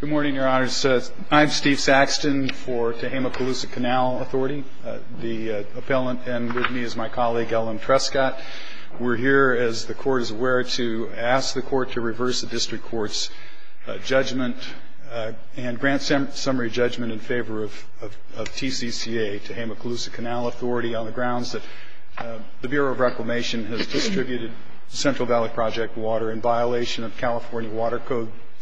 Good morning, Your Honors. I'm Steve Saxton for Tehama-Colusa Canal Authority. The appellant and with me is my colleague, Ellen Trescot. We're here, as the Court is aware, to ask the Court to reverse the District Court's judgment and grant summary judgment in favor of TCCA, Tehama-Colusa Canal Authority, on the grounds that the Bureau of Reclamation has distributed Central Valley Project water in violation of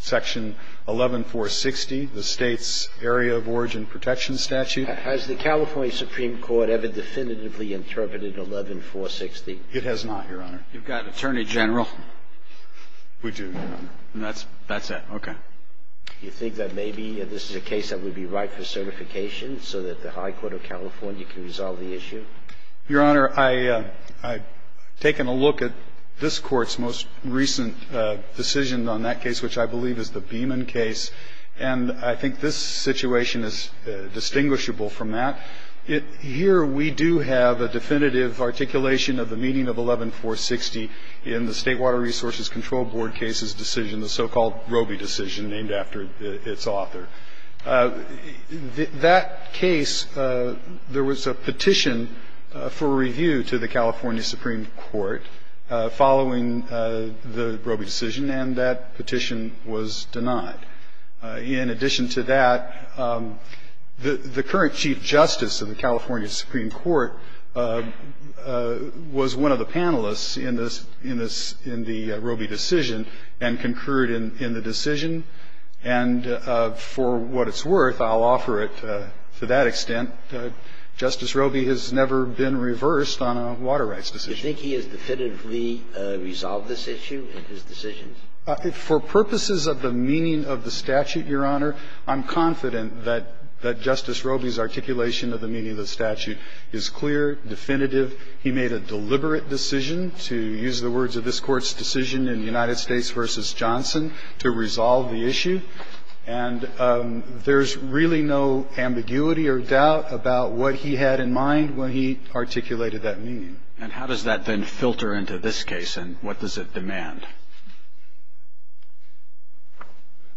Section 11460, the State's Area of Origin Protection statute. Has the California Supreme Court ever definitively interpreted 11460? It has not, Your Honor. You've got Attorney General. We do. And that's it. Okay. Do you think that maybe this is a case that would be right for certification so that the High Court of California can resolve the issue? Your Honor, I've taken a look at this Court's most recent decision on that case, which I believe is the Beeman case, and I think this situation is distinguishable from that. Here we do have a definitive articulation of the meaning of 11460 in the State Water Resources Control Board case's decision, the so-called Robey decision, named after its author. In that case, there was a petition for review to the California Supreme Court following the Robey decision, and that petition was denied. In addition to that, the current Chief Justice of the California Supreme Court was one of the panelists in the Robey decision and concurred in the decision. And for what it's worth, I'll offer it to that extent. Justice Robey has never been reversed on a water rights decision. Do you think he has definitively resolved this issue in his decision? For purposes of the meaning of the statute, Your Honor, I'm confident that Justice Robey's articulation of the meaning of the statute is clear, definitive. He made a deliberate decision, to use the words of this Court's decision in United States v. Johnson, to resolve the issue. And there's really no ambiguity or doubt about what he had in mind when he articulated that meaning. And how does that then filter into this case, and what does it demand?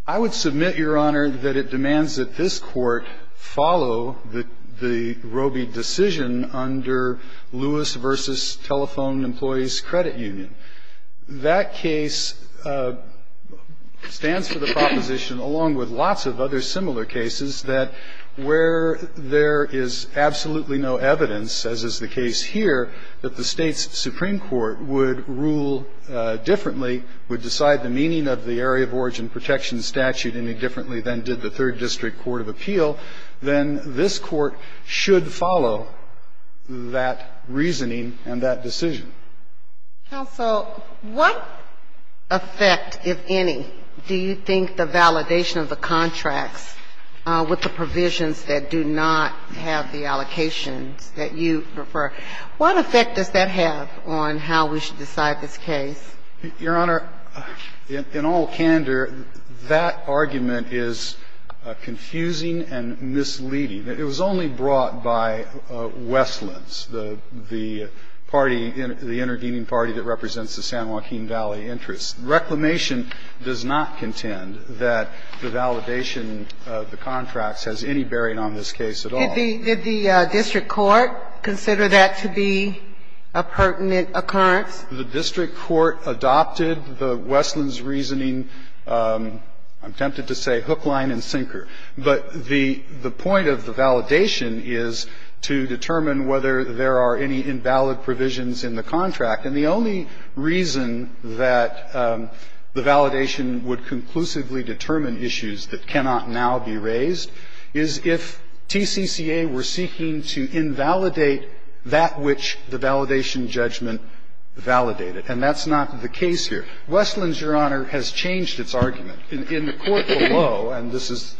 I would submit, Your Honor, that it demands that this Court follow the Robey decision under Lewis v. Telephone Employees Credit Union. That case stands for the proposition, along with lots of other similar cases, that where there is absolutely no evidence, as is the case here, that the State's Supreme Court would rule differently, would decide the meaning of the Area of Origin Protection statute any differently than did the Third District Court of Appeal, then this Court should follow that reasoning and that decision. Counsel, what effect, if any, do you think the validation of the contracts with the provisions that do not have the allocations that you prefer, what effect does that have on how we should decide this case? Your Honor, in all candor, that argument is confusing and misleading. It was only brought by Westlands, the party, the intervening party that represents the San Joaquin Valley interests. Reclamation does not contend that the validation of the contracts has any bearing on this case at all. Did the district court consider that to be a pertinent occurrence? The district court adopted the Westlands' reasoning, I'm tempted to say hook, line, and sinker. But the point of the validation is to determine whether there are any invalid provisions in the contract, and the only reason that the validation would conclusively determine issues that cannot now be raised is if TCCA were seeking to invalidate that which the validation judgment validated, and that's not the case here. Westlands, Your Honor, has changed its argument. In the court below, and this is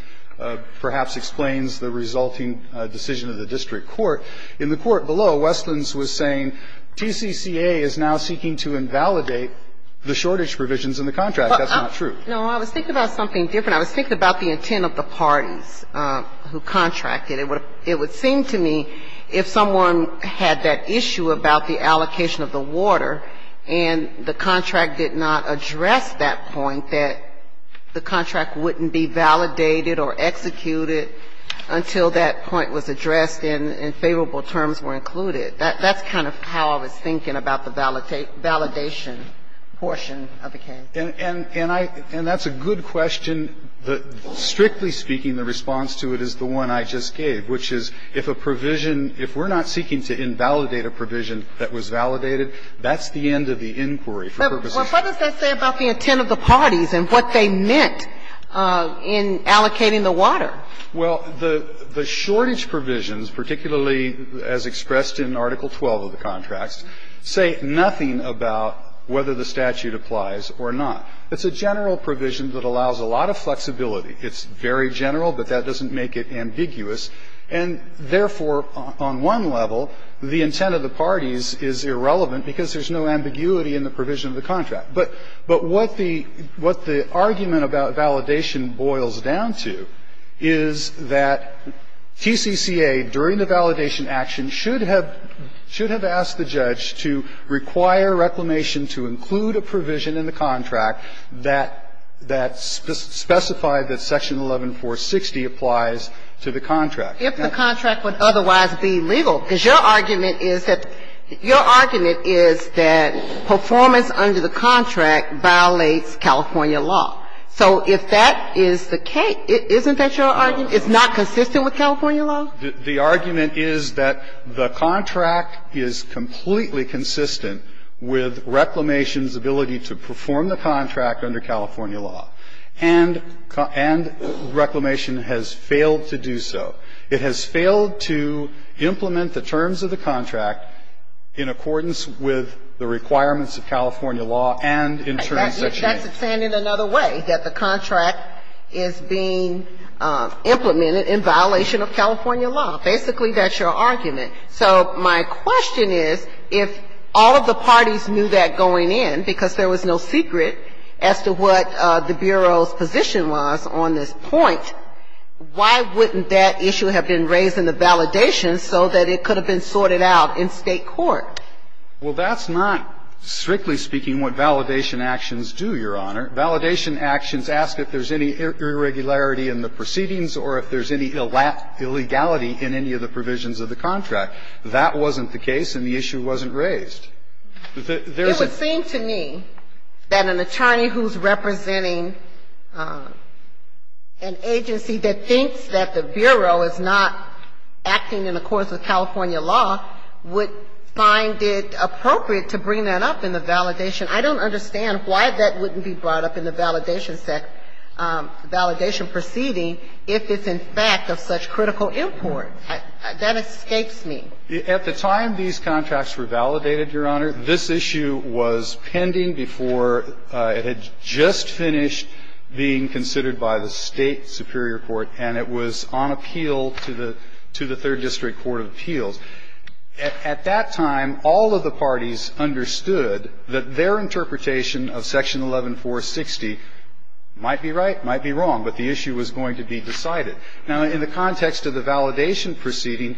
perhaps explains the resulting decision of the district court, in the court below, Westlands was saying TCCA is now seeking to invalidate the shortage provisions in the contract. That's not true. No, I was thinking about something different. I was thinking about the intent of the parties who contracted. It would seem to me if someone had that issue about the allocation of the water and the contract did not address that point, that the contract wouldn't be validated or executed until that point was addressed and favorable terms were included. That's kind of how I was thinking about the validation portion of the case. And I – and that's a good question. Strictly speaking, the response to it is the one I just gave, which is if a provision – if we're not seeking to invalidate a provision that was validated, that's the end of the inquiry for purposes of the statute. Well, what does that say about the intent of the parties and what they meant in allocating the water? Well, the shortage provisions, particularly as expressed in Article 12 of the contract, say nothing about whether the statute applies or not. It's a general provision that allows a lot of flexibility. It's very general, but that doesn't make it ambiguous. And therefore, on one level, the intent of the parties is irrelevant because there's no ambiguity in the provision of the contract. But what the – what the argument about validation boils down to is that TCCA, during the validation action, should have – should have asked the judge to require reclamation to include a provision in the contract that specified that Section 11-460 applies to the contract. Now – If the contract would otherwise be legal, because your argument is that – your argument is that performance under the contract violates California law. So if that is the case, isn't that your argument? It's not consistent with California law? The argument is that the contract is completely consistent with reclamation's ability to perform the contract under California law. And – and reclamation has failed to do so. It has failed to implement the terms of the contract in accordance with the requirements of California law and in terms of Section 11-460. That's saying it another way, that the contract is being implemented in violation of California law. Basically, that's your argument. So my question is, if all of the parties knew that going in, because there was no secret as to what the Bureau's position was on this point, why wouldn't that issue have been raised in the validation so that it could have been sorted out in State court? Well, that's not, strictly speaking, what validation actions do, Your Honor. Validation actions ask if there's any irregularity in the proceedings or if there's any illegality in any of the provisions of the contract. That wasn't the case, and the issue wasn't raised. There was a – It would seem to me that an attorney who's representing an agency that thinks that the Bureau is not acting in accordance with California law would find it appropriate to bring that up in the validation. I don't understand why that wouldn't be brought up in the validation sect – validation proceeding if it's in fact of such critical import. That escapes me. At the time these contracts were validated, Your Honor, this issue was pending before it had just finished being considered by the State superior court, and it was on appeal to the – to the Third District Court of Appeals. At that time, all of the parties understood that their interpretation of Section 11-460 might be right, might be wrong, but the issue was going to be decided. Now, in the context of the validation proceeding,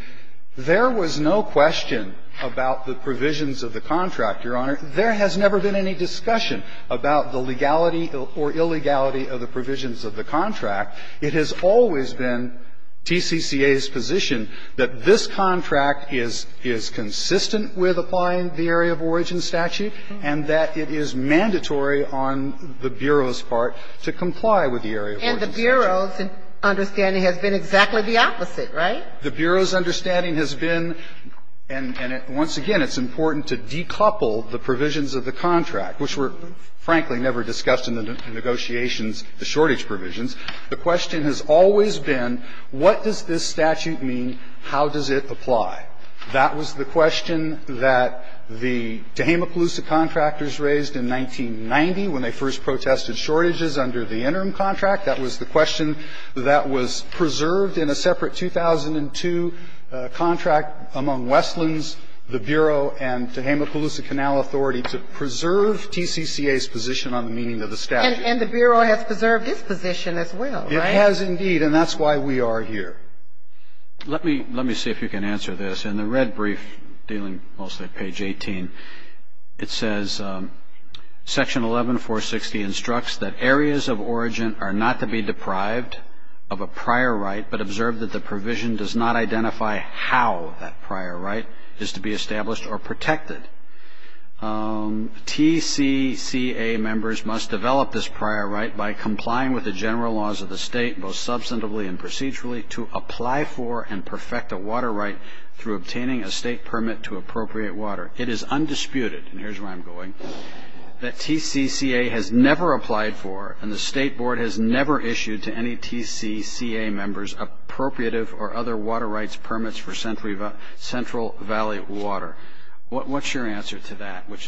there was no question about the provisions of the contract, Your Honor. There has never been any discussion about the legality or illegality of the provisions of the contract. It has always been TCCA's position that this contract is – is consistent with applying the area of origin statute and that it is mandatory on the Bureau's part to comply with the area of origin statute. And the Bureau's understanding has been exactly the opposite, right? The Bureau's understanding has been – and once again, it's important to decouple the provisions of the contract, which were, frankly, never discussed in the negotiations, the shortage provisions. The question has always been, what does this statute mean, how does it apply? That was the question that the Tehama-Pelluca contractors raised in 1990 when they first protested shortages under the interim contract. That was the question that was preserved in a separate 2002 contract among Westlands, the Bureau, and Tehama-Pelluca Canal Authority to preserve TCCA's position on the meaning of the statute. And the Bureau has preserved its position as well, right? It has, indeed, and that's why we are here. Let me – let me see if you can answer this. In the red brief dealing mostly at page 18, it says, Section 11-460 instructs that areas of origin are not to be deprived of a prior right but observe that the provision does not identify how that prior right is to be established or protected. TCCA members must develop this prior right by complying with the general laws of the state, both substantively and procedurally, to apply for and perfect a water right through obtaining a state permit to appropriate water. It is undisputed, and here's where I'm going, that TCCA has never applied for and the State Board has never issued to any TCCA members appropriative or other water rights permits for Central Valley water. What's your answer to that? Which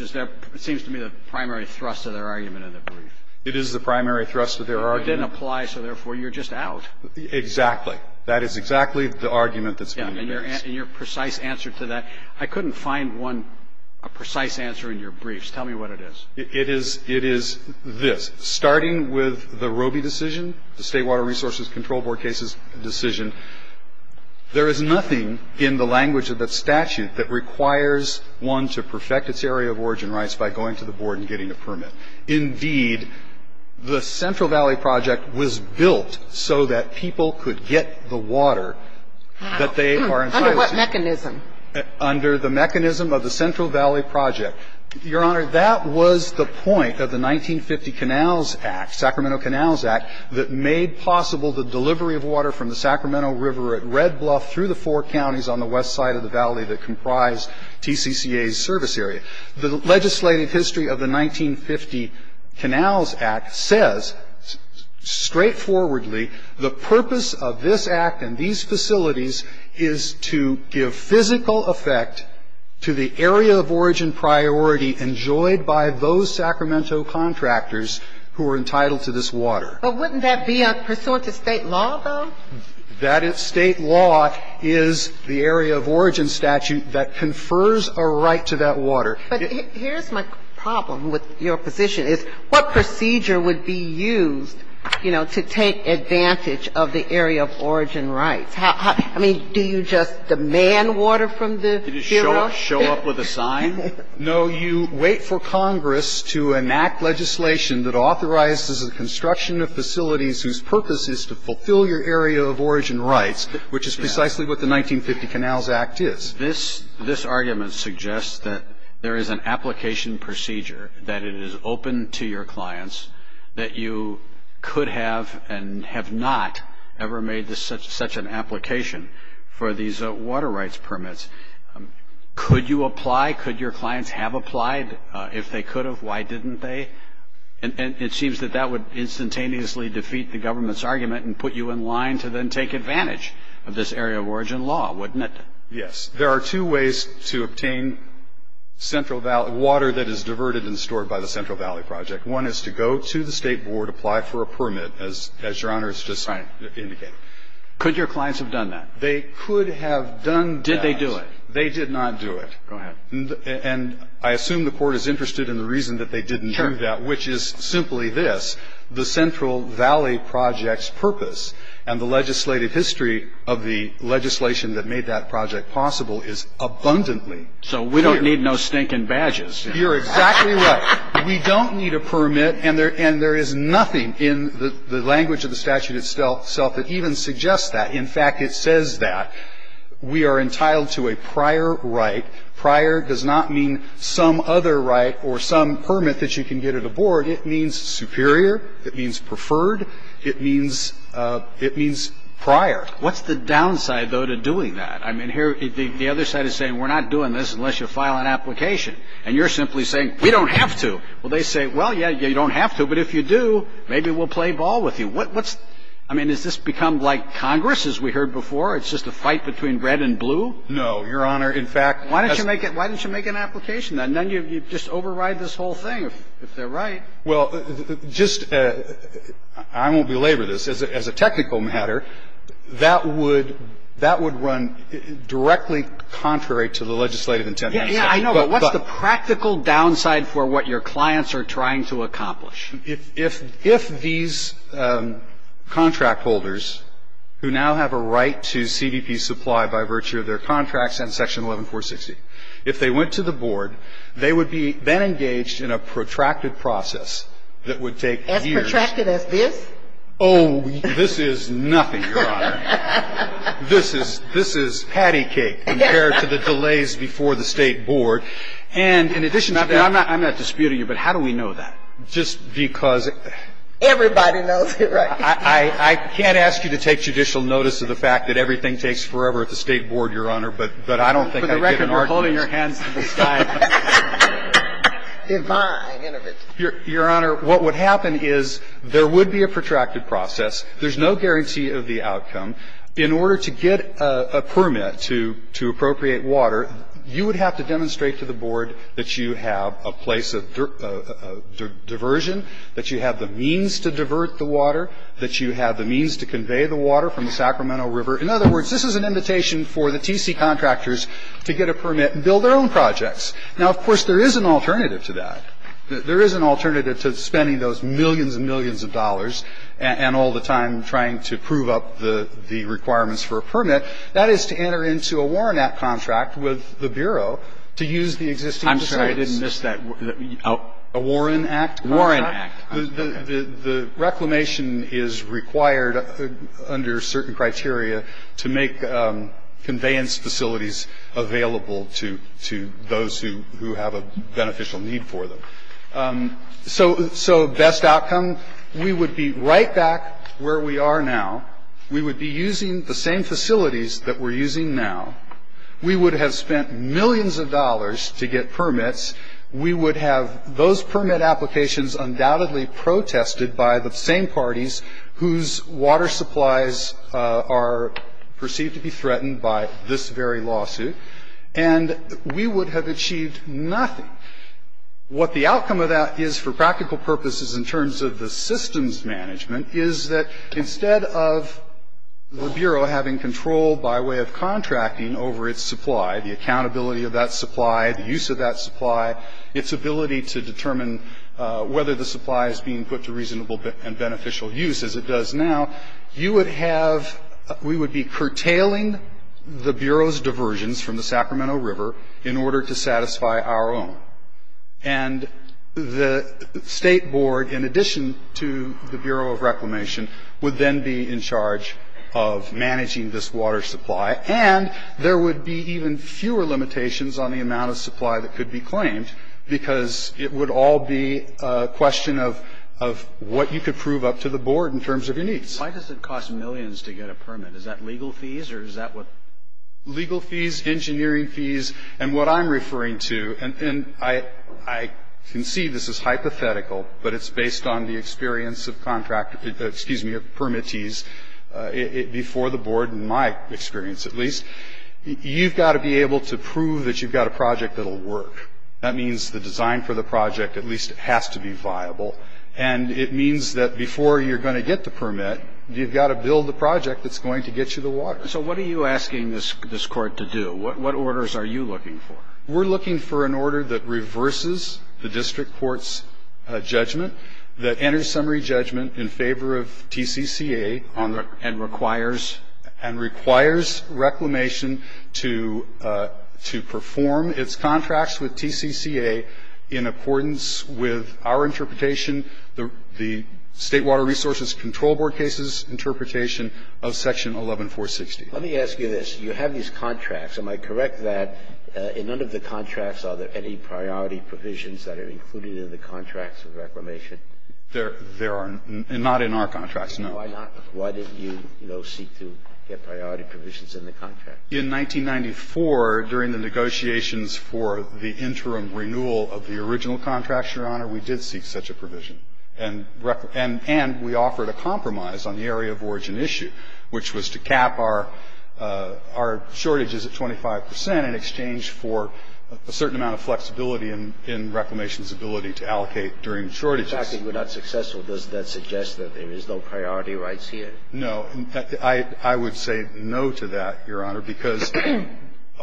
seems to me the primary thrust of their argument in the brief. It is the primary thrust of their argument. It didn't apply, so therefore you're just out. Exactly. That is exactly the argument that's being used. And your precise answer to that, I couldn't find one, a precise answer in your briefs. Tell me what it is. It is this. Starting with the Robey decision, the State Water Resources Control Board case's decision, there is nothing in the language of that statute that requires one to perfect its area of origin rights by going to the board and getting a permit. Indeed, the Central Valley Project was built so that people could get the water that they needed. Under what mechanism? Under the mechanism of the Central Valley Project. Your Honor, that was the point of the 1950 Canals Act, Sacramento Canals Act, that made possible the delivery of water from the Sacramento River at Red Bluff through the four counties on the west side of the valley that comprised TCCA's service area. The legislative history of the 1950 Canals Act says straightforwardly the purpose of this act and these facilities is to give physical effect to the area of origin priority enjoyed by those Sacramento contractors who are entitled to this water. But wouldn't that be pursuant to State law, though? That State law is the area of origin statute that confers a right to that water. But here's my problem with your position, is what procedure would be used, you know, to take advantage of the area of origin rights? I mean, do you just demand water from the Bureau? Do you just show up with a sign? No, you wait for Congress to enact legislation that authorizes the construction of facilities whose purpose is to fulfill your area of origin rights, which is precisely what the 1950 Canals Act is. This argument suggests that there is an application procedure, that it is open to your clients, that you could have and have not ever made such an application for these water rights permits. Could you apply? Could your clients have applied? If they could have, why didn't they? It seems that that would instantaneously defeat the government's argument and put you in line to then take advantage of this area of origin law, wouldn't it? Yes. There are two ways to obtain central valley water that is diverted and stored by the Central Valley Project. One is to go to the State Board, apply for a permit, as Your Honor has just indicated. Could your clients have done that? They could have done that. Did they do it? They did not do it. Go ahead. And I assume the Court is interested in the reason that they didn't do that, which is simply this. The Central Valley Project's purpose and the legislative history of the legislation that made that project possible is abundantly clear. So we don't need no stinking badges. You're exactly right. We don't need a permit. And there is nothing in the language of the statute itself that even suggests that. In fact, it says that we are entitled to a prior right. Prior does not mean some other right or some permit that you can get at a board. It means superior. It means preferred. It means prior. What's the downside, though, to doing that? I mean, here the other side is saying we're not doing this unless you file an application. And you're simply saying we don't have to. Well, they say, well, yeah, you don't have to, but if you do, maybe we'll play ball with you. I mean, has this become like Congress, as we heard before? It's just a fight between red and blue? No, Your Honor. In fact, why don't you make an application? And then you just override this whole thing, if they're right. Well, I won't belabor this. As a technical matter, that would run directly contrary to the legislative intent. Yeah, I know, but what's the practical downside for what your clients are trying to accomplish? If these contract holders, who now have a right to CVP supply by virtue of their contracts and Section 11460, if they went to the board, they would be then engaged in a protracted process that would take years. As protracted as this? Oh, this is nothing, Your Honor. This is patty cake compared to the delays before the State Board. And in addition to that ---- I'm not disputing you, but how do we know that? Just because ---- Everybody knows it, right? I can't ask you to take judicial notice of the fact that everything takes forever at the State Board, Your Honor, but I don't think I'd give an argument. For the record, we're holding your hands to the sky. Divine intervention. Your Honor, what would happen is there would be a protracted process. There's no guarantee of the outcome. In order to get a permit to appropriate water, you would have to demonstrate to the board that you have a place of diversion, that you have the means to divert the water, that you have the means to convey the water from the Sacramento River. In other words, this is an invitation for the TC contractors to get a permit and build their own projects. Now, of course, there is an alternative to that. There is an alternative to spending those millions and millions of dollars and all the time trying to prove up the requirements for a permit. That is to enter into a Warren Act contract with the Bureau to use the existing facilities. I'm sorry, I didn't miss that. A Warren Act contract? Warren Act. The reclamation is required under certain criteria to make conveyance facilities available to those who have a beneficial need for them. So best outcome, we would be right back where we are now. We would be using the same facilities that we're using now. We would have spent millions of dollars to get permits. We would have those permit applications undoubtedly protested by the same parties whose water supplies are perceived to be threatened by this very lawsuit. And we would have achieved nothing. What the outcome of that is for practical purposes in terms of the systems management is that instead of the Bureau having control by way of contracting over its supply, the accountability of that supply, the use of that supply, its ability to determine whether the supply is being put to reasonable and beneficial use as it does now, you would have, we would be curtailing the Bureau's diversions from the Sacramento River in order to satisfy our own. And the state board, in addition to the Bureau of Reclamation, would then be in charge of managing this water supply. And there would be even fewer limitations on the amount of supply that could be claimed because it would all be a question of what you could prove up to the board in terms of your needs. Why does it cost millions to get a permit? Is that legal fees or is that what? Legal fees, engineering fees, and what I'm referring to, and I can see this is hypothetical, but it's based on the experience of contractor, excuse me, of permittees before the board, in my experience at least. You've got to be able to prove that you've got a project that'll work. That means the design for the project, at least it has to be viable. And it means that before you're going to get the permit, you've got to build the project that's going to get you the water. So what are you asking this court to do? What orders are you looking for? We're looking for an order that reverses the district court's judgment, that enters summary judgment in favor of TCCA and requires reclamation to perform its contracts with TCCA in accordance with our interpretation, the State Water Resources Control Board case's interpretation of section 11-460. Let me ask you this. You have these contracts. Am I correct that in none of the contracts are there any priority provisions that are included in the contracts of reclamation? There are not in our contracts, no. Why not? Why didn't you, you know, seek to get priority provisions in the contracts? In 1994, during the negotiations for the interim renewal of the original contracts, Your Honor, we did seek such a provision. And we offered a compromise on the area of origin issue, which was to cap our shortages at 25 percent in exchange for a certain amount of flexibility in reclamation's ability to allocate during shortages. If we're not successful, does that suggest that there is no priority rights here? No. I would say no to that, Your Honor, because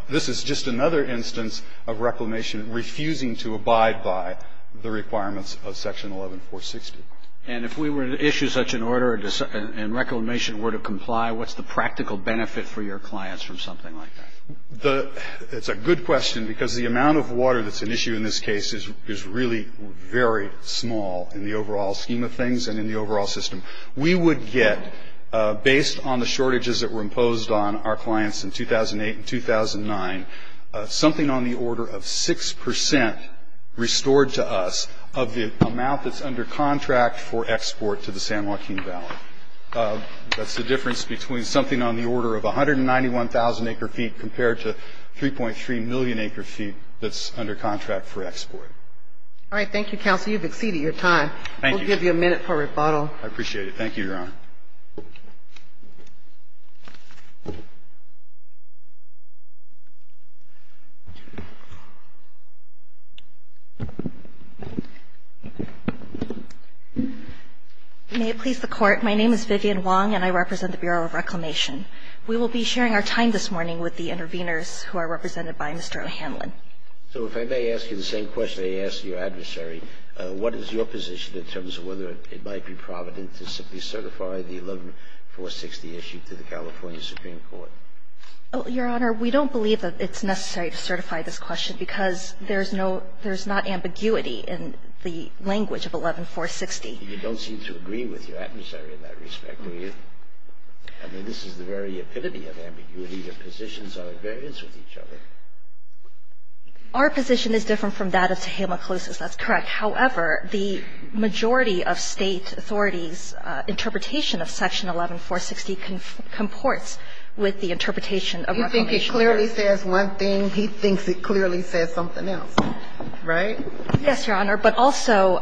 this is just another instance of reclamation refusing to abide by the requirements of section 11-460. And if we were to issue such an order and reclamation were to comply, what's the practical benefit for your clients from something like that? It's a good question, because the amount of water that's an issue in this case is really very small in the overall scheme of things and in the overall system. We would get, based on the shortages that were imposed on our clients in 2008 and 2009, something on the order of 6 percent restored to us of the amount that's under contract for export to the San Joaquin Valley. That's the difference between something on the order of 191,000 acre feet compared to 3.3 million acre feet that's under contract for export. All right. Thank you, counsel. You've exceeded your time. Thank you. We'll give you a minute for rebuttal. I appreciate it. May it please the Court, my name is Vivian Wong, and I represent the Bureau of Reclamation. We will be sharing our time this morning with the interveners, who are represented by Mr. O'Hanlon. So if I may ask you the same question I asked your adversary, what is your position in terms of whether it might be provident to simply certify the 11-460 issue to the California Supreme Court? Your Honor, we don't believe that it's necessary to certify this question because there's no – there's not ambiguity in the language of 11-460. You don't seem to agree with your adversary in that respect, do you? I mean, this is the very epitome of ambiguity. Your positions are at variance with each other. Our position is different from that of Tehama Clos' that's correct. However, the majority of State authorities' interpretation of Section 11-460 comports with the interpretation of Reclamation. You think it clearly says one thing. He thinks it clearly says something else, right? Yes, Your Honor. But also,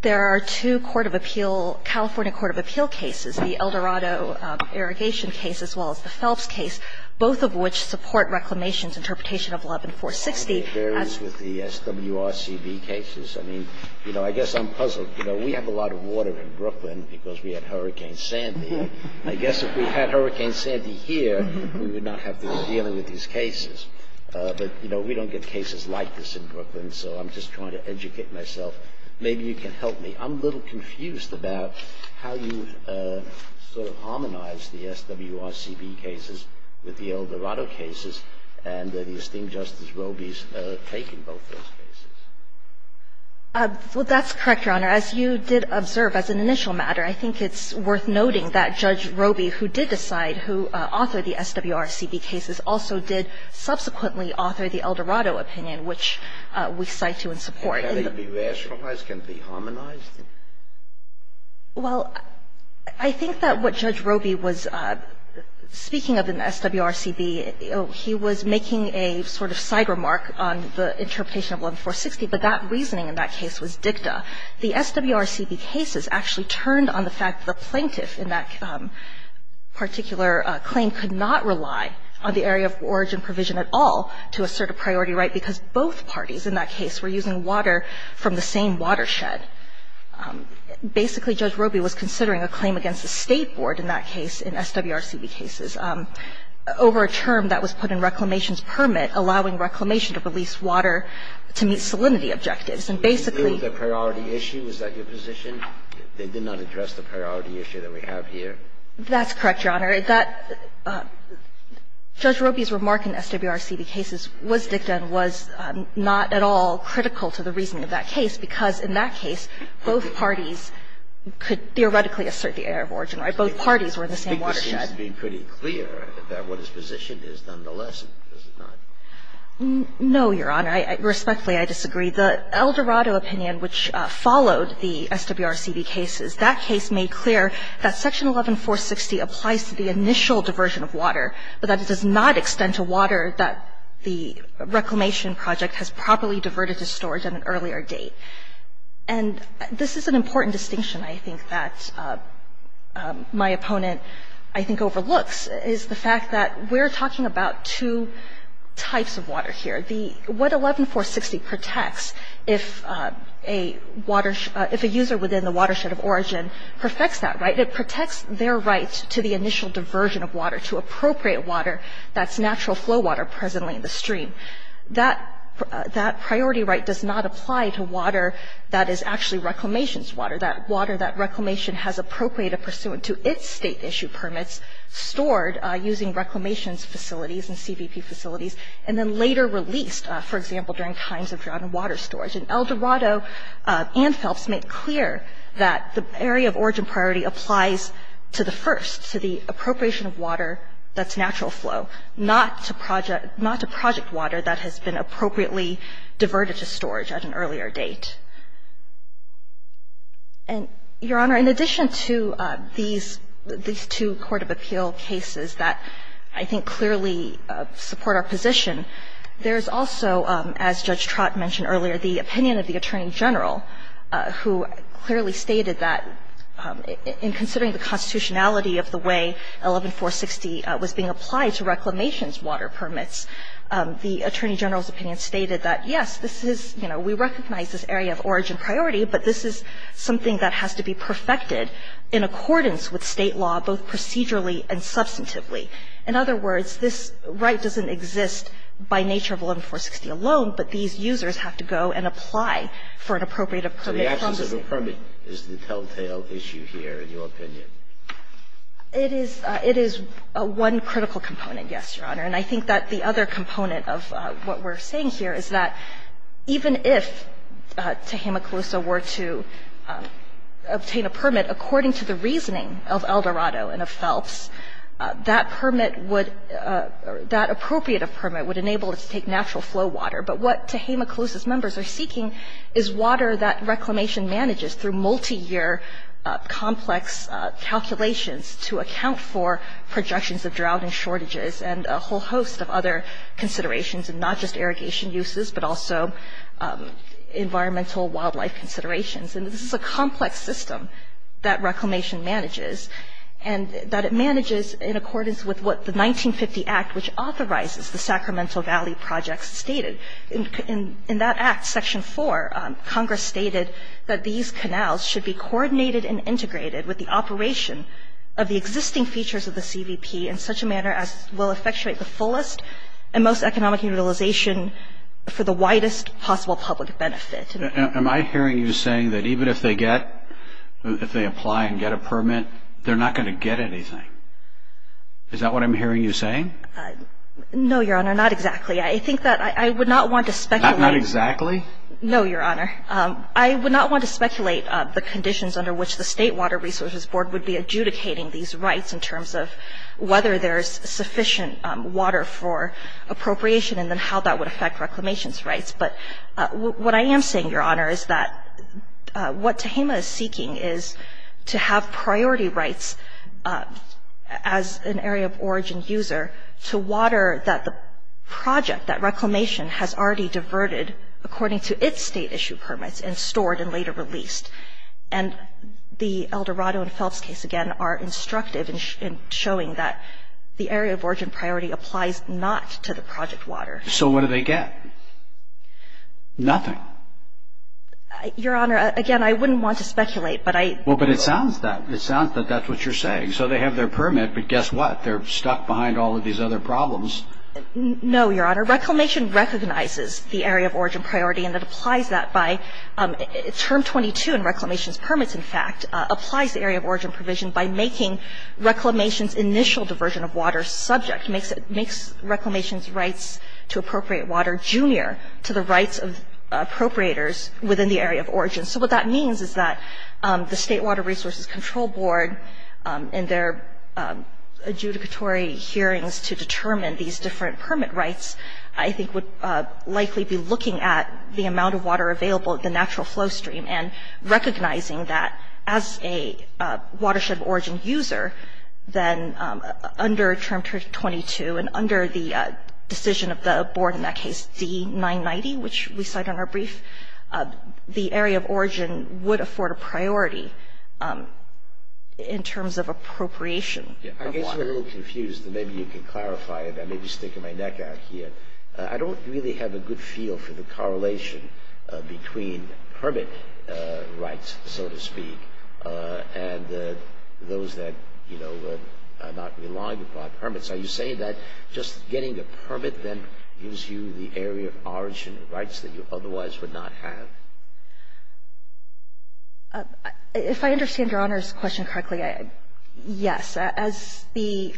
there are two court of appeal – California court of appeal cases, the Eldorado irrigation case as well as the Phelps case, both of which support Reclamation's interpretation of 11-460. I think it varies with the SWRCB cases. I mean, you know, I guess I'm puzzled. You know, we have a lot of water in Brooklyn because we had Hurricane Sandy. I guess if we had Hurricane Sandy here, we would not have to be dealing with these cases. But, you know, we don't get cases like this in Brooklyn, so I'm just trying to educate myself. Maybe you can help me. I'm a little confused about how you sort of harmonize the SWRCB cases with the Eldorado cases and the esteemed Justice Roby's taking both those cases. Well, that's correct, Your Honor. As you did observe, as an initial matter, I think it's worth noting that Judge Roby, who did decide who authored the SWRCB cases, also did subsequently author the Eldorado opinion, which we cite to in support. Can it be rationalized? Can it be harmonized? Well, I think that what Judge Roby was speaking of in the SWRCB, he was making a sort of side remark on the interpretation of 11-460, but that reasoning in that case was dicta. The SWRCB cases actually turned on the fact that the plaintiff in that particular claim could not rely on the area of origin provision at all to assert a priority right, because both parties in that case were using water from the same watershed. Basically, Judge Roby was considering a claim against the State board in that case in SWRCB cases over a term that was put in reclamation's permit, allowing reclamation to release water to meet salinity objectives. Is that your position? They did not address the priority issue that we have here? That's correct, Your Honor. That Judge Roby's remark in SWRCB cases was dicta and was not at all critical to the reasoning of that case, because in that case, both parties could theoretically assert the area of origin. Both parties were in the same watershed. I think it seems to be pretty clear that what his position is nonetheless, does it not? No, Your Honor. Respectfully, I disagree. The Eldorado opinion, which followed the SWRCB cases, that case made clear that Section 11460 applies to the initial diversion of water, but that it does not extend to water that the reclamation project has properly diverted to storage at an earlier date. And this is an important distinction, I think, that my opponent, I think, overlooks, is the fact that we're talking about two types of water here. What 11460 protects, if a user within the watershed of origin perfects that, right? It protects their right to the initial diversion of water, to appropriate water that's natural flow water presently in the stream. That priority right does not apply to water that is actually reclamation's water, that water that reclamation has appropriated pursuant to its state issue permits, stored using reclamation's facilities and CVP facilities, and then later released, for example, during times of drought and water storage. And Eldorado and Phelps make clear that the area of origin priority applies to the first, to the appropriation of water that's natural flow, not to project water that has been appropriately diverted to storage at an earlier date. And, Your Honor, in addition to these two court of appeal cases that I think clearly support our position, there's also, as Judge Trott mentioned earlier, the opinion of the Attorney General, who clearly stated that in considering the constitutionality of the way 11460 was being applied to reclamation's water permits, the Attorney General's opinion stated that, yes, this is, you know, we recognize this area of origin priority, but this is something that has to be perfected in accordance with State law, both procedurally and substantively. In other words, this right doesn't exist by nature of 11460 alone, but these users have to go and apply for an appropriate appropriate permit from the State. So the absence of a permit is the telltale issue here, in your opinion? It is one critical component, yes, Your Honor. And I think that the other component of what we're saying here is that even if, to Hama-Calusa, were to obtain a permit according to the reasoning of Eldorado and of Phelps, that permit would – that appropriate permit would enable it to take natural flow water. But what, to Hama-Calusa's members, they're seeking is water that reclamation manages through multiyear complex calculations to account for projections of drought and shortages and a whole host of other considerations, and not just wildlife considerations. And this is a complex system that reclamation manages, and that it manages in accordance with what the 1950 Act, which authorizes the Sacramento Valley projects, stated. In that Act, Section 4, Congress stated that these canals should be coordinated and integrated with the operation of the existing features of the CVP in such a manner as will effectuate the fullest and most economic utilization for the widest possible public benefit. Am I hearing you saying that even if they get – if they apply and get a permit, they're not going to get anything? Is that what I'm hearing you saying? No, Your Honor, not exactly. I think that – I would not want to speculate. Not exactly? No, Your Honor. I would not want to speculate the conditions under which the State Water Resources Board would be adjudicating these rights in terms of whether there's sufficient water for appropriation and then how that would affect reclamation's rights. But what I am saying, Your Honor, is that what Tehama is seeking is to have priority rights as an area of origin user to water that the project, that reclamation, has already diverted according to its State issue permits and stored and later released. And the Eldorado and Phelps case, again, are instructive in showing that the area of origin priority applies not to the project water. So what do they get? Nothing. Your Honor, again, I wouldn't want to speculate, but I – Well, but it sounds that – it sounds that that's what you're saying. So they have their permit, but guess what? They're stuck behind all of these other problems. No, Your Honor. Reclamation recognizes the area of origin priority, and it applies that by – Term 22 in reclamation's permits, in fact, applies the area of origin provision by making reclamation's initial diversion of water subject. It makes reclamation's rights to appropriate water junior to the rights of appropriators within the area of origin. So what that means is that the State Water Resources Control Board, in their adjudicatory hearings to determine these different permit rights, I think would likely be looking at the amount of water available at the natural flow stream and recognizing that as a watershed origin user, then under Term 22 and under the decision of the board in that case, D-990, which we cite on our brief, the area of origin would afford a priority in terms of appropriation of water. I guess you're a little confused, and maybe you can clarify it. I may be sticking my neck out here. I don't really have a good feel for the correlation between permit rights, so to speak, and those that, you know, are not reliant upon permits. Are you saying that just getting a permit then gives you the area of origin rights that you otherwise would not have? If I understand Your Honor's question correctly, yes. As the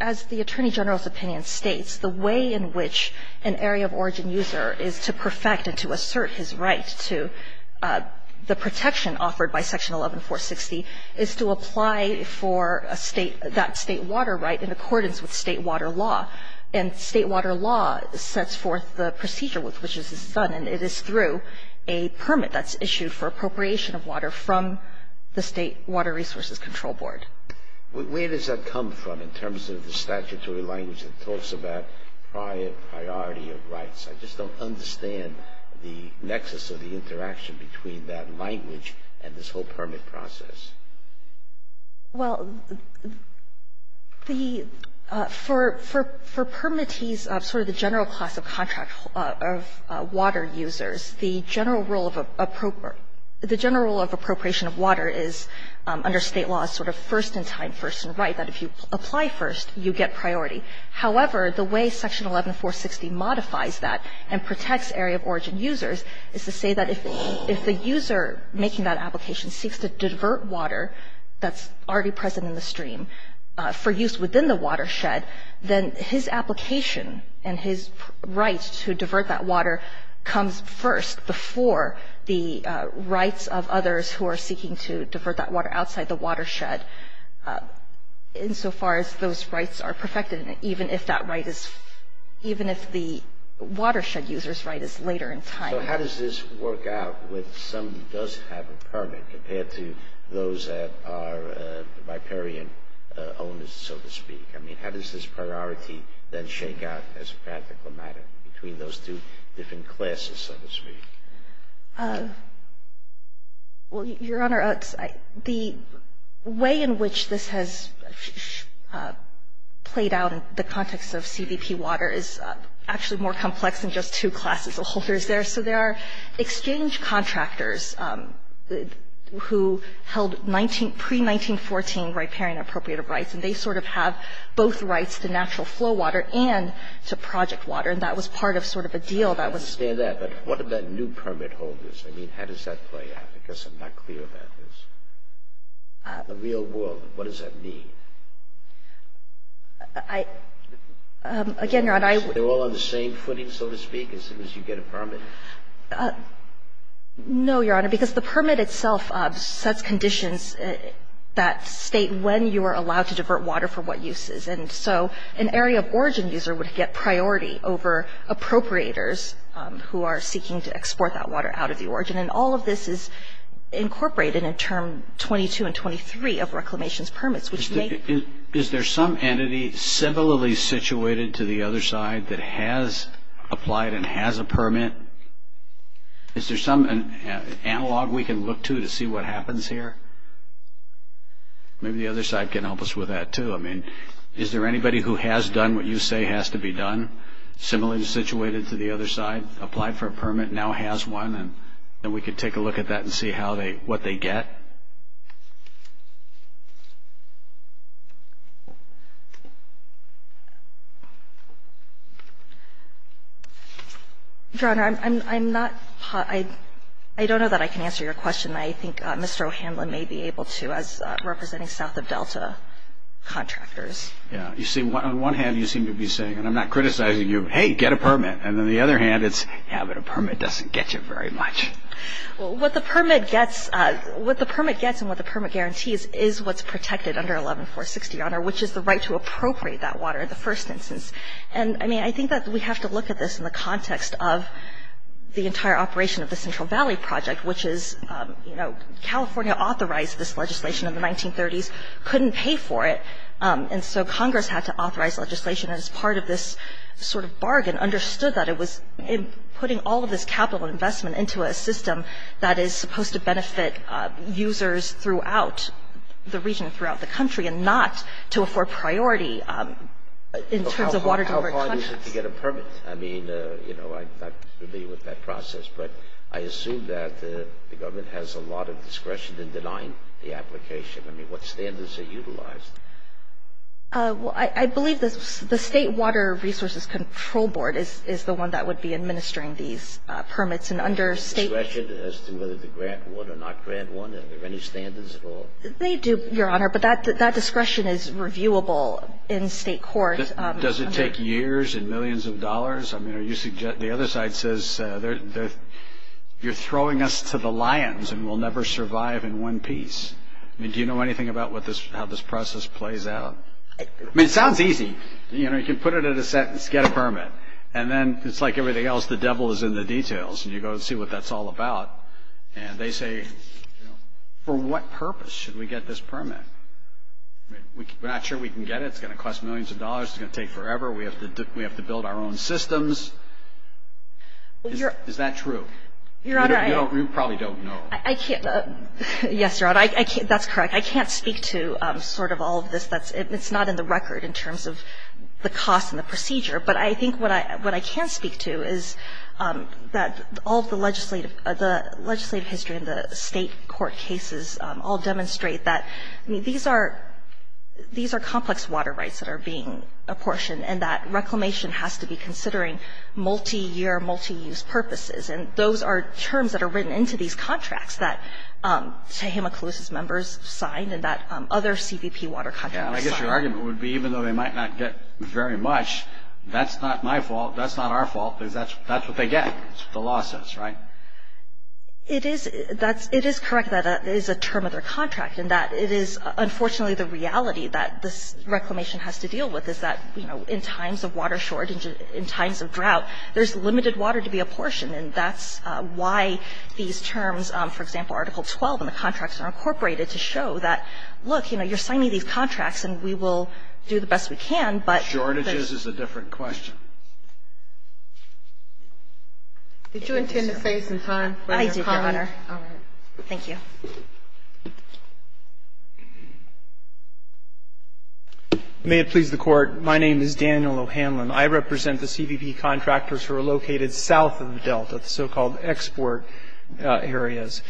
Attorney General's opinion states, the way in which an area of origin user is to perfect and to assert his right to the protection offered by Section 11-460 is to apply for that State Water right in accordance with State Water law, and State Water law sets forth the procedure with which this is done, and it is through a permit that's issued for appropriation of water from the State Water Resources Control Board. Where does that come from in terms of the statutory language that talks about priority of rights? I just don't understand the nexus of the interaction between that language and this whole permit process. Well, for permittees, sort of the general class of contract of water users, the general role of appropriation of water is under State law sort of first in time, first in right, that if you apply first, you get priority. However, the way Section 11-460 modifies that and protects area of origin users is to say that if the user making that application seeks to divert water that's already present in the stream for use within the watershed, then his application and his right to divert that for the rights of others who are seeking to divert that water outside the watershed in so far as those rights are perfected, even if that right is, even if the watershed user's right is later in time. So how does this work out with somebody who does have a permit compared to those that are riparian owners, so to speak? I mean, how does this priority then shake out as a practical matter between those two different classes, so to speak? Well, Your Honor, the way in which this has played out in the context of CBP water is actually more complex than just two classes of holders there. So there are exchange contractors who held pre-1914 riparian appropriative rights, and they sort of have both rights to natural flow water and to project water. And that was part of sort of a deal that was ---- I understand that, but what about new permit holders? I mean, how does that play out? I guess I'm not clear about this. The real world, what does that mean? Again, Your Honor, I ---- They're all on the same footing, so to speak, as soon as you get a permit? No, Your Honor, because the permit itself sets conditions that state when you are allowed to divert water for what uses. And so an area of origin user would get priority over appropriators who are seeking to export that water out of the origin. And all of this is incorporated in Term 22 and 23 of reclamation's permits, which make ---- Is there some entity civilly situated to the other side that has applied and has a permit? Is there some analog we can look to to see what happens here? Maybe the other side can help us with that, too. I mean, is there anybody who has done what you say has to be done, similarly situated to the other side, applied for a permit, now has one, and then we could take a look at that and see how they ---- what they get? Your Honor, I'm not ---- I don't know that I can answer your question. I think Mr. O'Hanlon may be able to, as representing south of Delta contractors. Yeah. You see, on one hand, you seem to be saying, and I'm not criticizing you, hey, get a permit. And on the other hand, it's, yeah, but a permit doesn't get you very much. Well, what the permit gets and what the permit guarantees is what's protected under 11-460, Your Honor, which is the right to appropriate that water in the first instance. And, I mean, I think that we have to look at this in the context of the entire operation of the Central Valley Project, which is, you know, California authorized this legislation in the 1930s, couldn't pay for it, and so Congress had to authorize legislation as part of this sort of bargain, understood that it was putting all of this capital investment into a system that is supposed to benefit users throughout the region, throughout the country, and not to afford priority in terms of water delivery contracts. How hard is it to get a permit? I mean, you know, I'm not familiar with that process, but I assume that the government has a lot of discretion in denying the application. I mean, what standards are utilized? Well, I believe the State Water Resources Control Board is the one that would be administering these permits. And under state discretion as to whether to grant one or not grant one, are there any standards at all? They do, Your Honor, but that discretion is reviewable in state court. Does it take years and millions of dollars? I mean, the other side says, you're throwing us to the lions and we'll never survive in one piece. I mean, do you know anything about how this process plays out? I mean, it sounds easy. You know, you can put it in a sentence, get a permit, and then it's like everything else, the devil is in the details, and you go and see what that's all about. And they say, for what purpose should we get this permit? We're not sure we can get it. It's going to cost millions of dollars. It's going to take forever. We have to build our own systems. Is that true? Your Honor, I can't, yes, Your Honor, I can't, that's correct. I can't speak to sort of all of this. That's, it's not in the record in terms of the cost and the procedure. But I think what I can speak to is that all of the legislative, the legislative history in the state court cases all demonstrate that, I mean, these are complex water rights that are being apportioned, and that reclamation has to be considering multi-year, multi-use purposes. And those are terms that are written into these contracts that, say, Himakalusa's members signed and that other CBP water contractors signed. And I guess your argument would be, even though they might not get very much, that's not my fault, that's not our fault, because that's, that's what they get, the lawsuits, right? It is, that's, it is correct that it is a term of their contract and that it is, unfortunately, the reality that this reclamation has to deal with, is that, you know, in times of water shortage, in times of drought, there's limited water to be apportioned, and that's why these terms, for example, Article 12 in the contracts are incorporated to show that, look, you know, you're signing these contracts and we will do the best we can, but. Shortages is a different question. Did you intend to save some time for your comment? I did, Your Honor. All right. Thank you. May it please the Court, my name is Daniel O'Hanlon. I represent the CBP contractors who are located south of the Delta, the so-called export areas.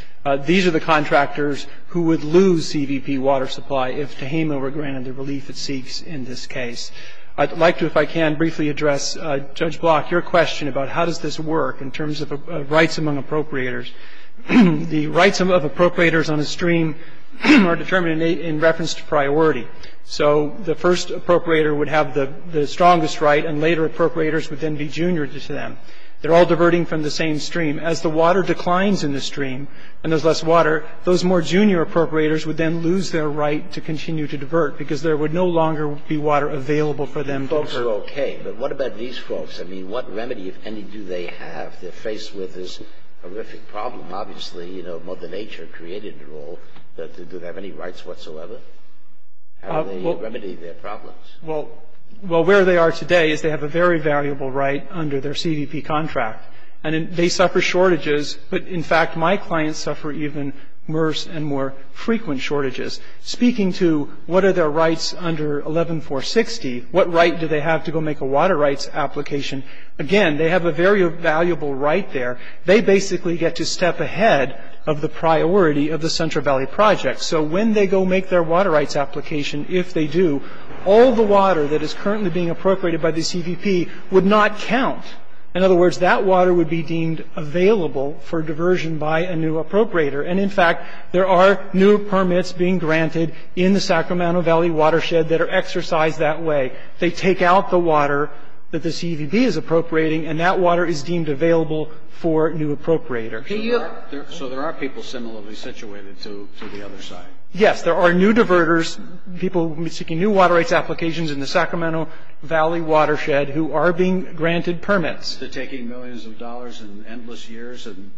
These are the contractors who would lose CBP water supply if Tehama were granted the relief it seeks in this case. I'd like to, if I can, briefly address Judge Block, your question about how does this work in terms of rights among appropriators. The rights of appropriators on a stream are determined in reference to priority. So the first appropriator would have the strongest right, and later appropriators would then be junior to them. They're all diverting from the same stream. As the water declines in the stream, and there's less water, those more junior appropriators would then lose their right to continue to divert, because there would no longer be water available for them to use. Folks are okay, but what about these folks? I mean, what remedy, if any, do they have? They're faced with this horrific problem. Obviously, you know, mother nature created it all, but do they have any rights whatsoever? How do they remedy their problems? Well, where they are today is they have a very valuable right under their CBP contract. And they suffer shortages, but in fact, my clients suffer even worse and more frequent shortages. Speaking to what are their rights under 11-460, what right do they have to go make a water rights application? Again, they have a very valuable right there. They basically get to step ahead of the priority of the Central Valley Project. So when they go make their water rights application, if they do, all the water that is currently being appropriated by the CBP would not count. In other words, that water would be deemed available for diversion by a new appropriator. And in fact, there are new permits being granted in the Sacramento Valley watershed that are exercised that way. They take out the water that the CBP is appropriating, and that water is deemed available for a new appropriator. So there are people similarly situated to the other side? Yes, there are new diverters, people seeking new water rights applications in the Sacramento Valley watershed who are being granted permits. They're taking millions of dollars and endless years and?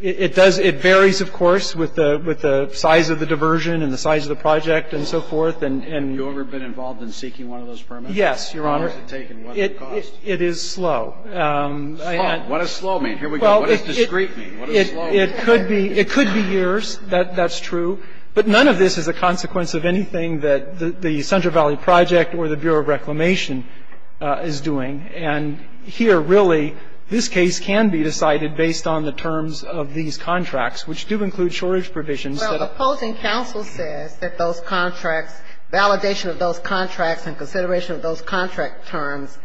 It varies, of course, with the size of the diversion and the size of the project and so forth. Have you ever been involved in seeking one of those permits? Yes, Your Honor. How long does it take and what does it cost? It is slow. Slow? What does slow mean? Here we go. What does discreet mean? What does slow mean? It could be years. That's true. But none of this is a consequence of anything that the Central Valley Project or the Bureau of Reclamation is doing. And here, really, this case can be decided based on the terms of these contracts, which do include shortage provisions. Well, the opposing counsel says that those contracts, validation of those contracts and consideration of those contract terms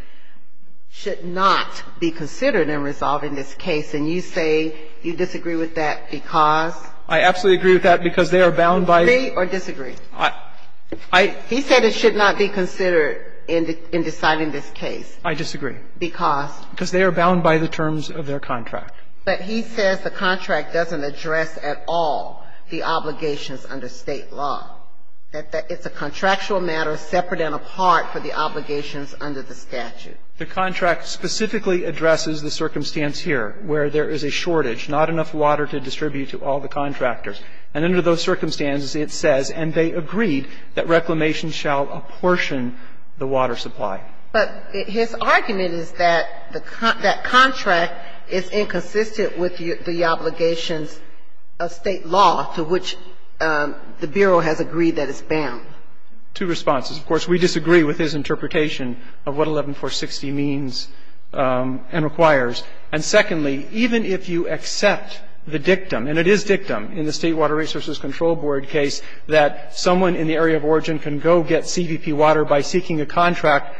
should not be considered in resolving this case. And you say you disagree with that because? I absolutely agree with that because they are bound by the terms of their contract. Do you agree or disagree? I agree. He said it should not be considered in deciding this case. I disagree. Because? Because they are bound by the terms of their contract. But he says the contract doesn't address at all. The obligations under State law. That it's a contractual matter separate and apart for the obligations under the statute. The contract specifically addresses the circumstance here where there is a shortage, not enough water to distribute to all the contractors. And under those circumstances, it says, and they agreed, that Reclamation shall apportion the water supply. But his argument is that the contract is inconsistent with the obligations of State law to which the Bureau has agreed that it's bound. Two responses. Of course, we disagree with his interpretation of what 11-460 means and requires. And secondly, even if you accept the dictum, and it is dictum in the State Water Resources Control Board case that someone in the area of origin can go get CVP water by seeking a contract,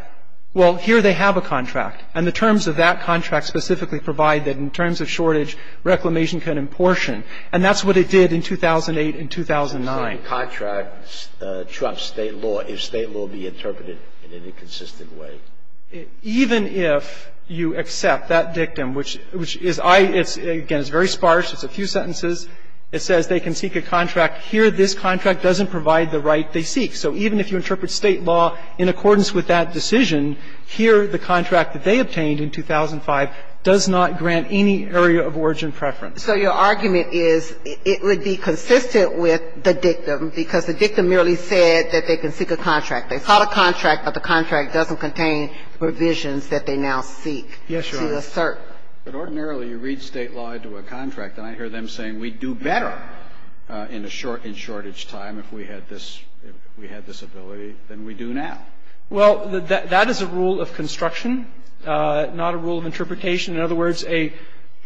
well, here they have a contract. And the terms of that contract specifically provide that in terms of shortage, Reclamation can apportion. And that's what it did in 2008 and 2009. Sotomayor, the contract trumps State law if State law be interpreted in any consistent way. Even if you accept that dictum, which is I – it's, again, it's very sparse. It's a few sentences. It says they can seek a contract. Here this contract doesn't provide the right they seek. So even if you interpret State law in accordance with that decision, here the contract that they obtained in 2005 does not grant any area of origin preference. So your argument is it would be consistent with the dictum because the dictum merely said that they can seek a contract. They sought a contract, but the contract doesn't contain provisions that they now seek to assert. Yes, Your Honor. But ordinarily you read State law into a contract, and I hear them saying we'd do better in a short – in shortage time if we had this – if we had this ability than we do now. Well, that is a rule of construction, not a rule of interpretation. In other words, a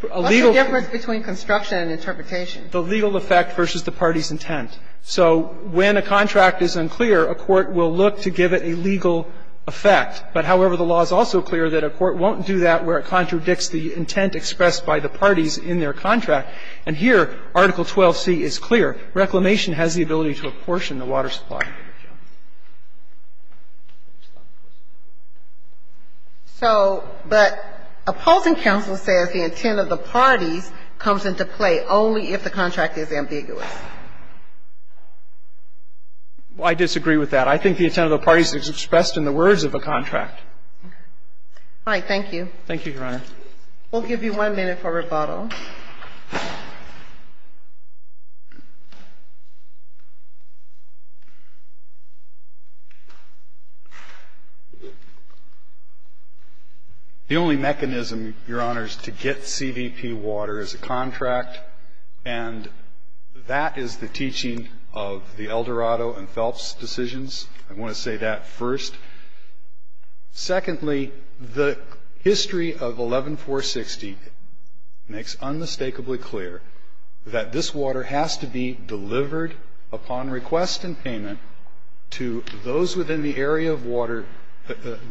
legal – What's the difference between construction and interpretation? The legal effect versus the party's intent. So when a contract is unclear, a court will look to give it a legal effect. But, however, the law is also clear that a court won't do that where it contradicts the intent expressed by the parties in their contract. And here Article 12c is clear. Reclamation has the ability to apportion the water supply. So, but opposing counsel says the intent of the parties comes into play only if the contract is ambiguous. Well, I disagree with that. I think the intent of the parties is expressed in the words of the contract. All right. Thank you. Thank you, Your Honor. We'll give you one minute for rebuttal. The only mechanism, Your Honor, is to get CVP water is a contract. And that is the teaching of the Eldorado and Phelps decisions. I want to say that first. Secondly, the history of 11-460 makes unmistakably clear that this water has to be delivered upon request and payment to those within the area of water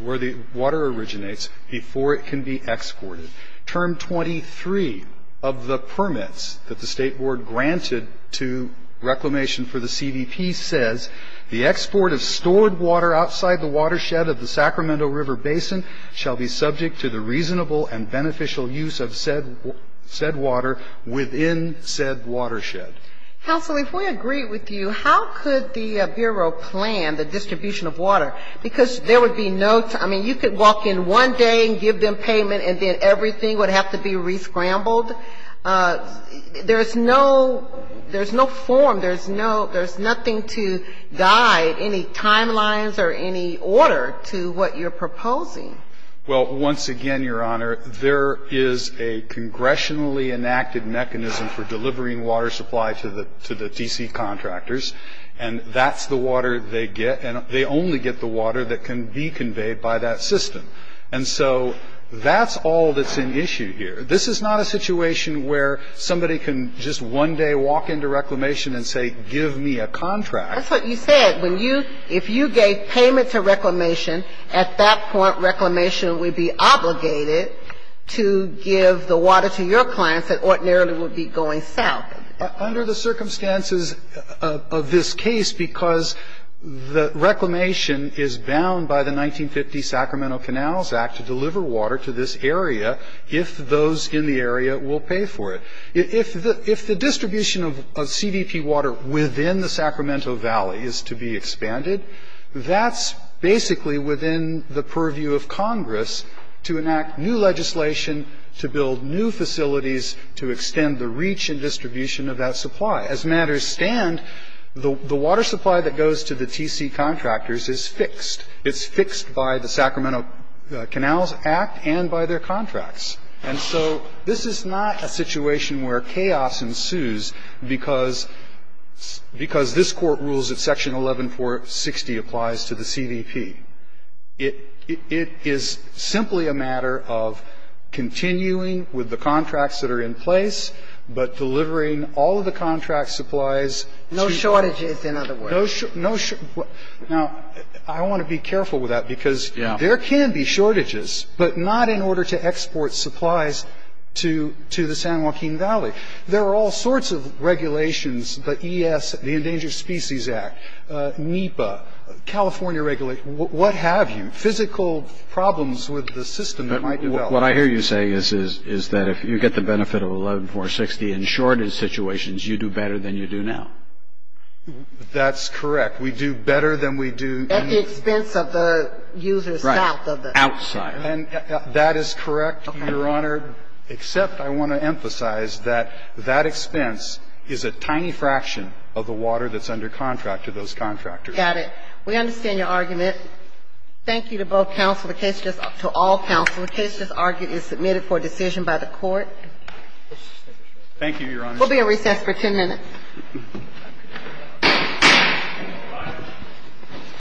where the water originates before it can be exported. Term 23 of the permits that the State Board granted to reclamation for the CVP says the export of stored water outside the watershed of the Sacramento River Basin shall be subject to the reasonable and beneficial use of said water within said watershed. Counsel, if we agree with you, how could the Bureau plan the distribution of water? Because there would be no, I mean, you could walk in one day and give them payment and then everything would have to be re-scrambled. There's no form. There's nothing to guide any timelines or any order to what you're proposing. Well, once again, Your Honor, there is a congressionally enacted mechanism for delivering water supply to the D.C. contractors. And that's the water they get. And they only get the water that can be conveyed by that system. And so that's all that's an issue here. This is not a situation where somebody can just one day walk into reclamation and say give me a contract. That's what you said. If you gave payment to reclamation, at that point reclamation would be obligated to give the water to your clients that ordinarily would be going south. Under the circumstances of this case, because the reclamation is bound by the 1950 Sacramento Canals Act to deliver water to this area if those in the area will pay for it. If the distribution of CDP water within the Sacramento Valley is to be expanded, that's basically within the purview of Congress to enact new legislation, to build new facilities, to extend the reach and distribution of that supply. As matters stand, the water supply that goes to the D.C. contractors is fixed. It's fixed by the Sacramento Canals Act and by their contracts. And so this is not a situation where chaos ensues because this Court rules that Section 11-460 applies to the CDP. It is simply a matter of continuing with the contracts that are in place, but delivering all of the contract supplies to the other. No shortages, in other words. Now, I want to be careful with that because there can be shortages, but not in order to export supplies to the San Joaquin Valley. There are all sorts of regulations, the ES, the Endangered Species Act, NEPA, California regulation, what have you, physical problems with the system that might develop. But what I hear you saying is that if you get the benefit of 11-460 in shortage situations, you do better than you do now. That's correct. We do better than we do. At the expense of the users south of the. Right, outside. And that is correct, Your Honor, except I want to emphasize that that expense is a tiny fraction of the water that's under contract to those contractors. Got it. We understand your argument. Thank you to both counsel, to all counsel. The case just argued is submitted for decision by the Court. Thank you, Your Honor. We'll be at recess for 10 minutes. Thank you, Your Honor.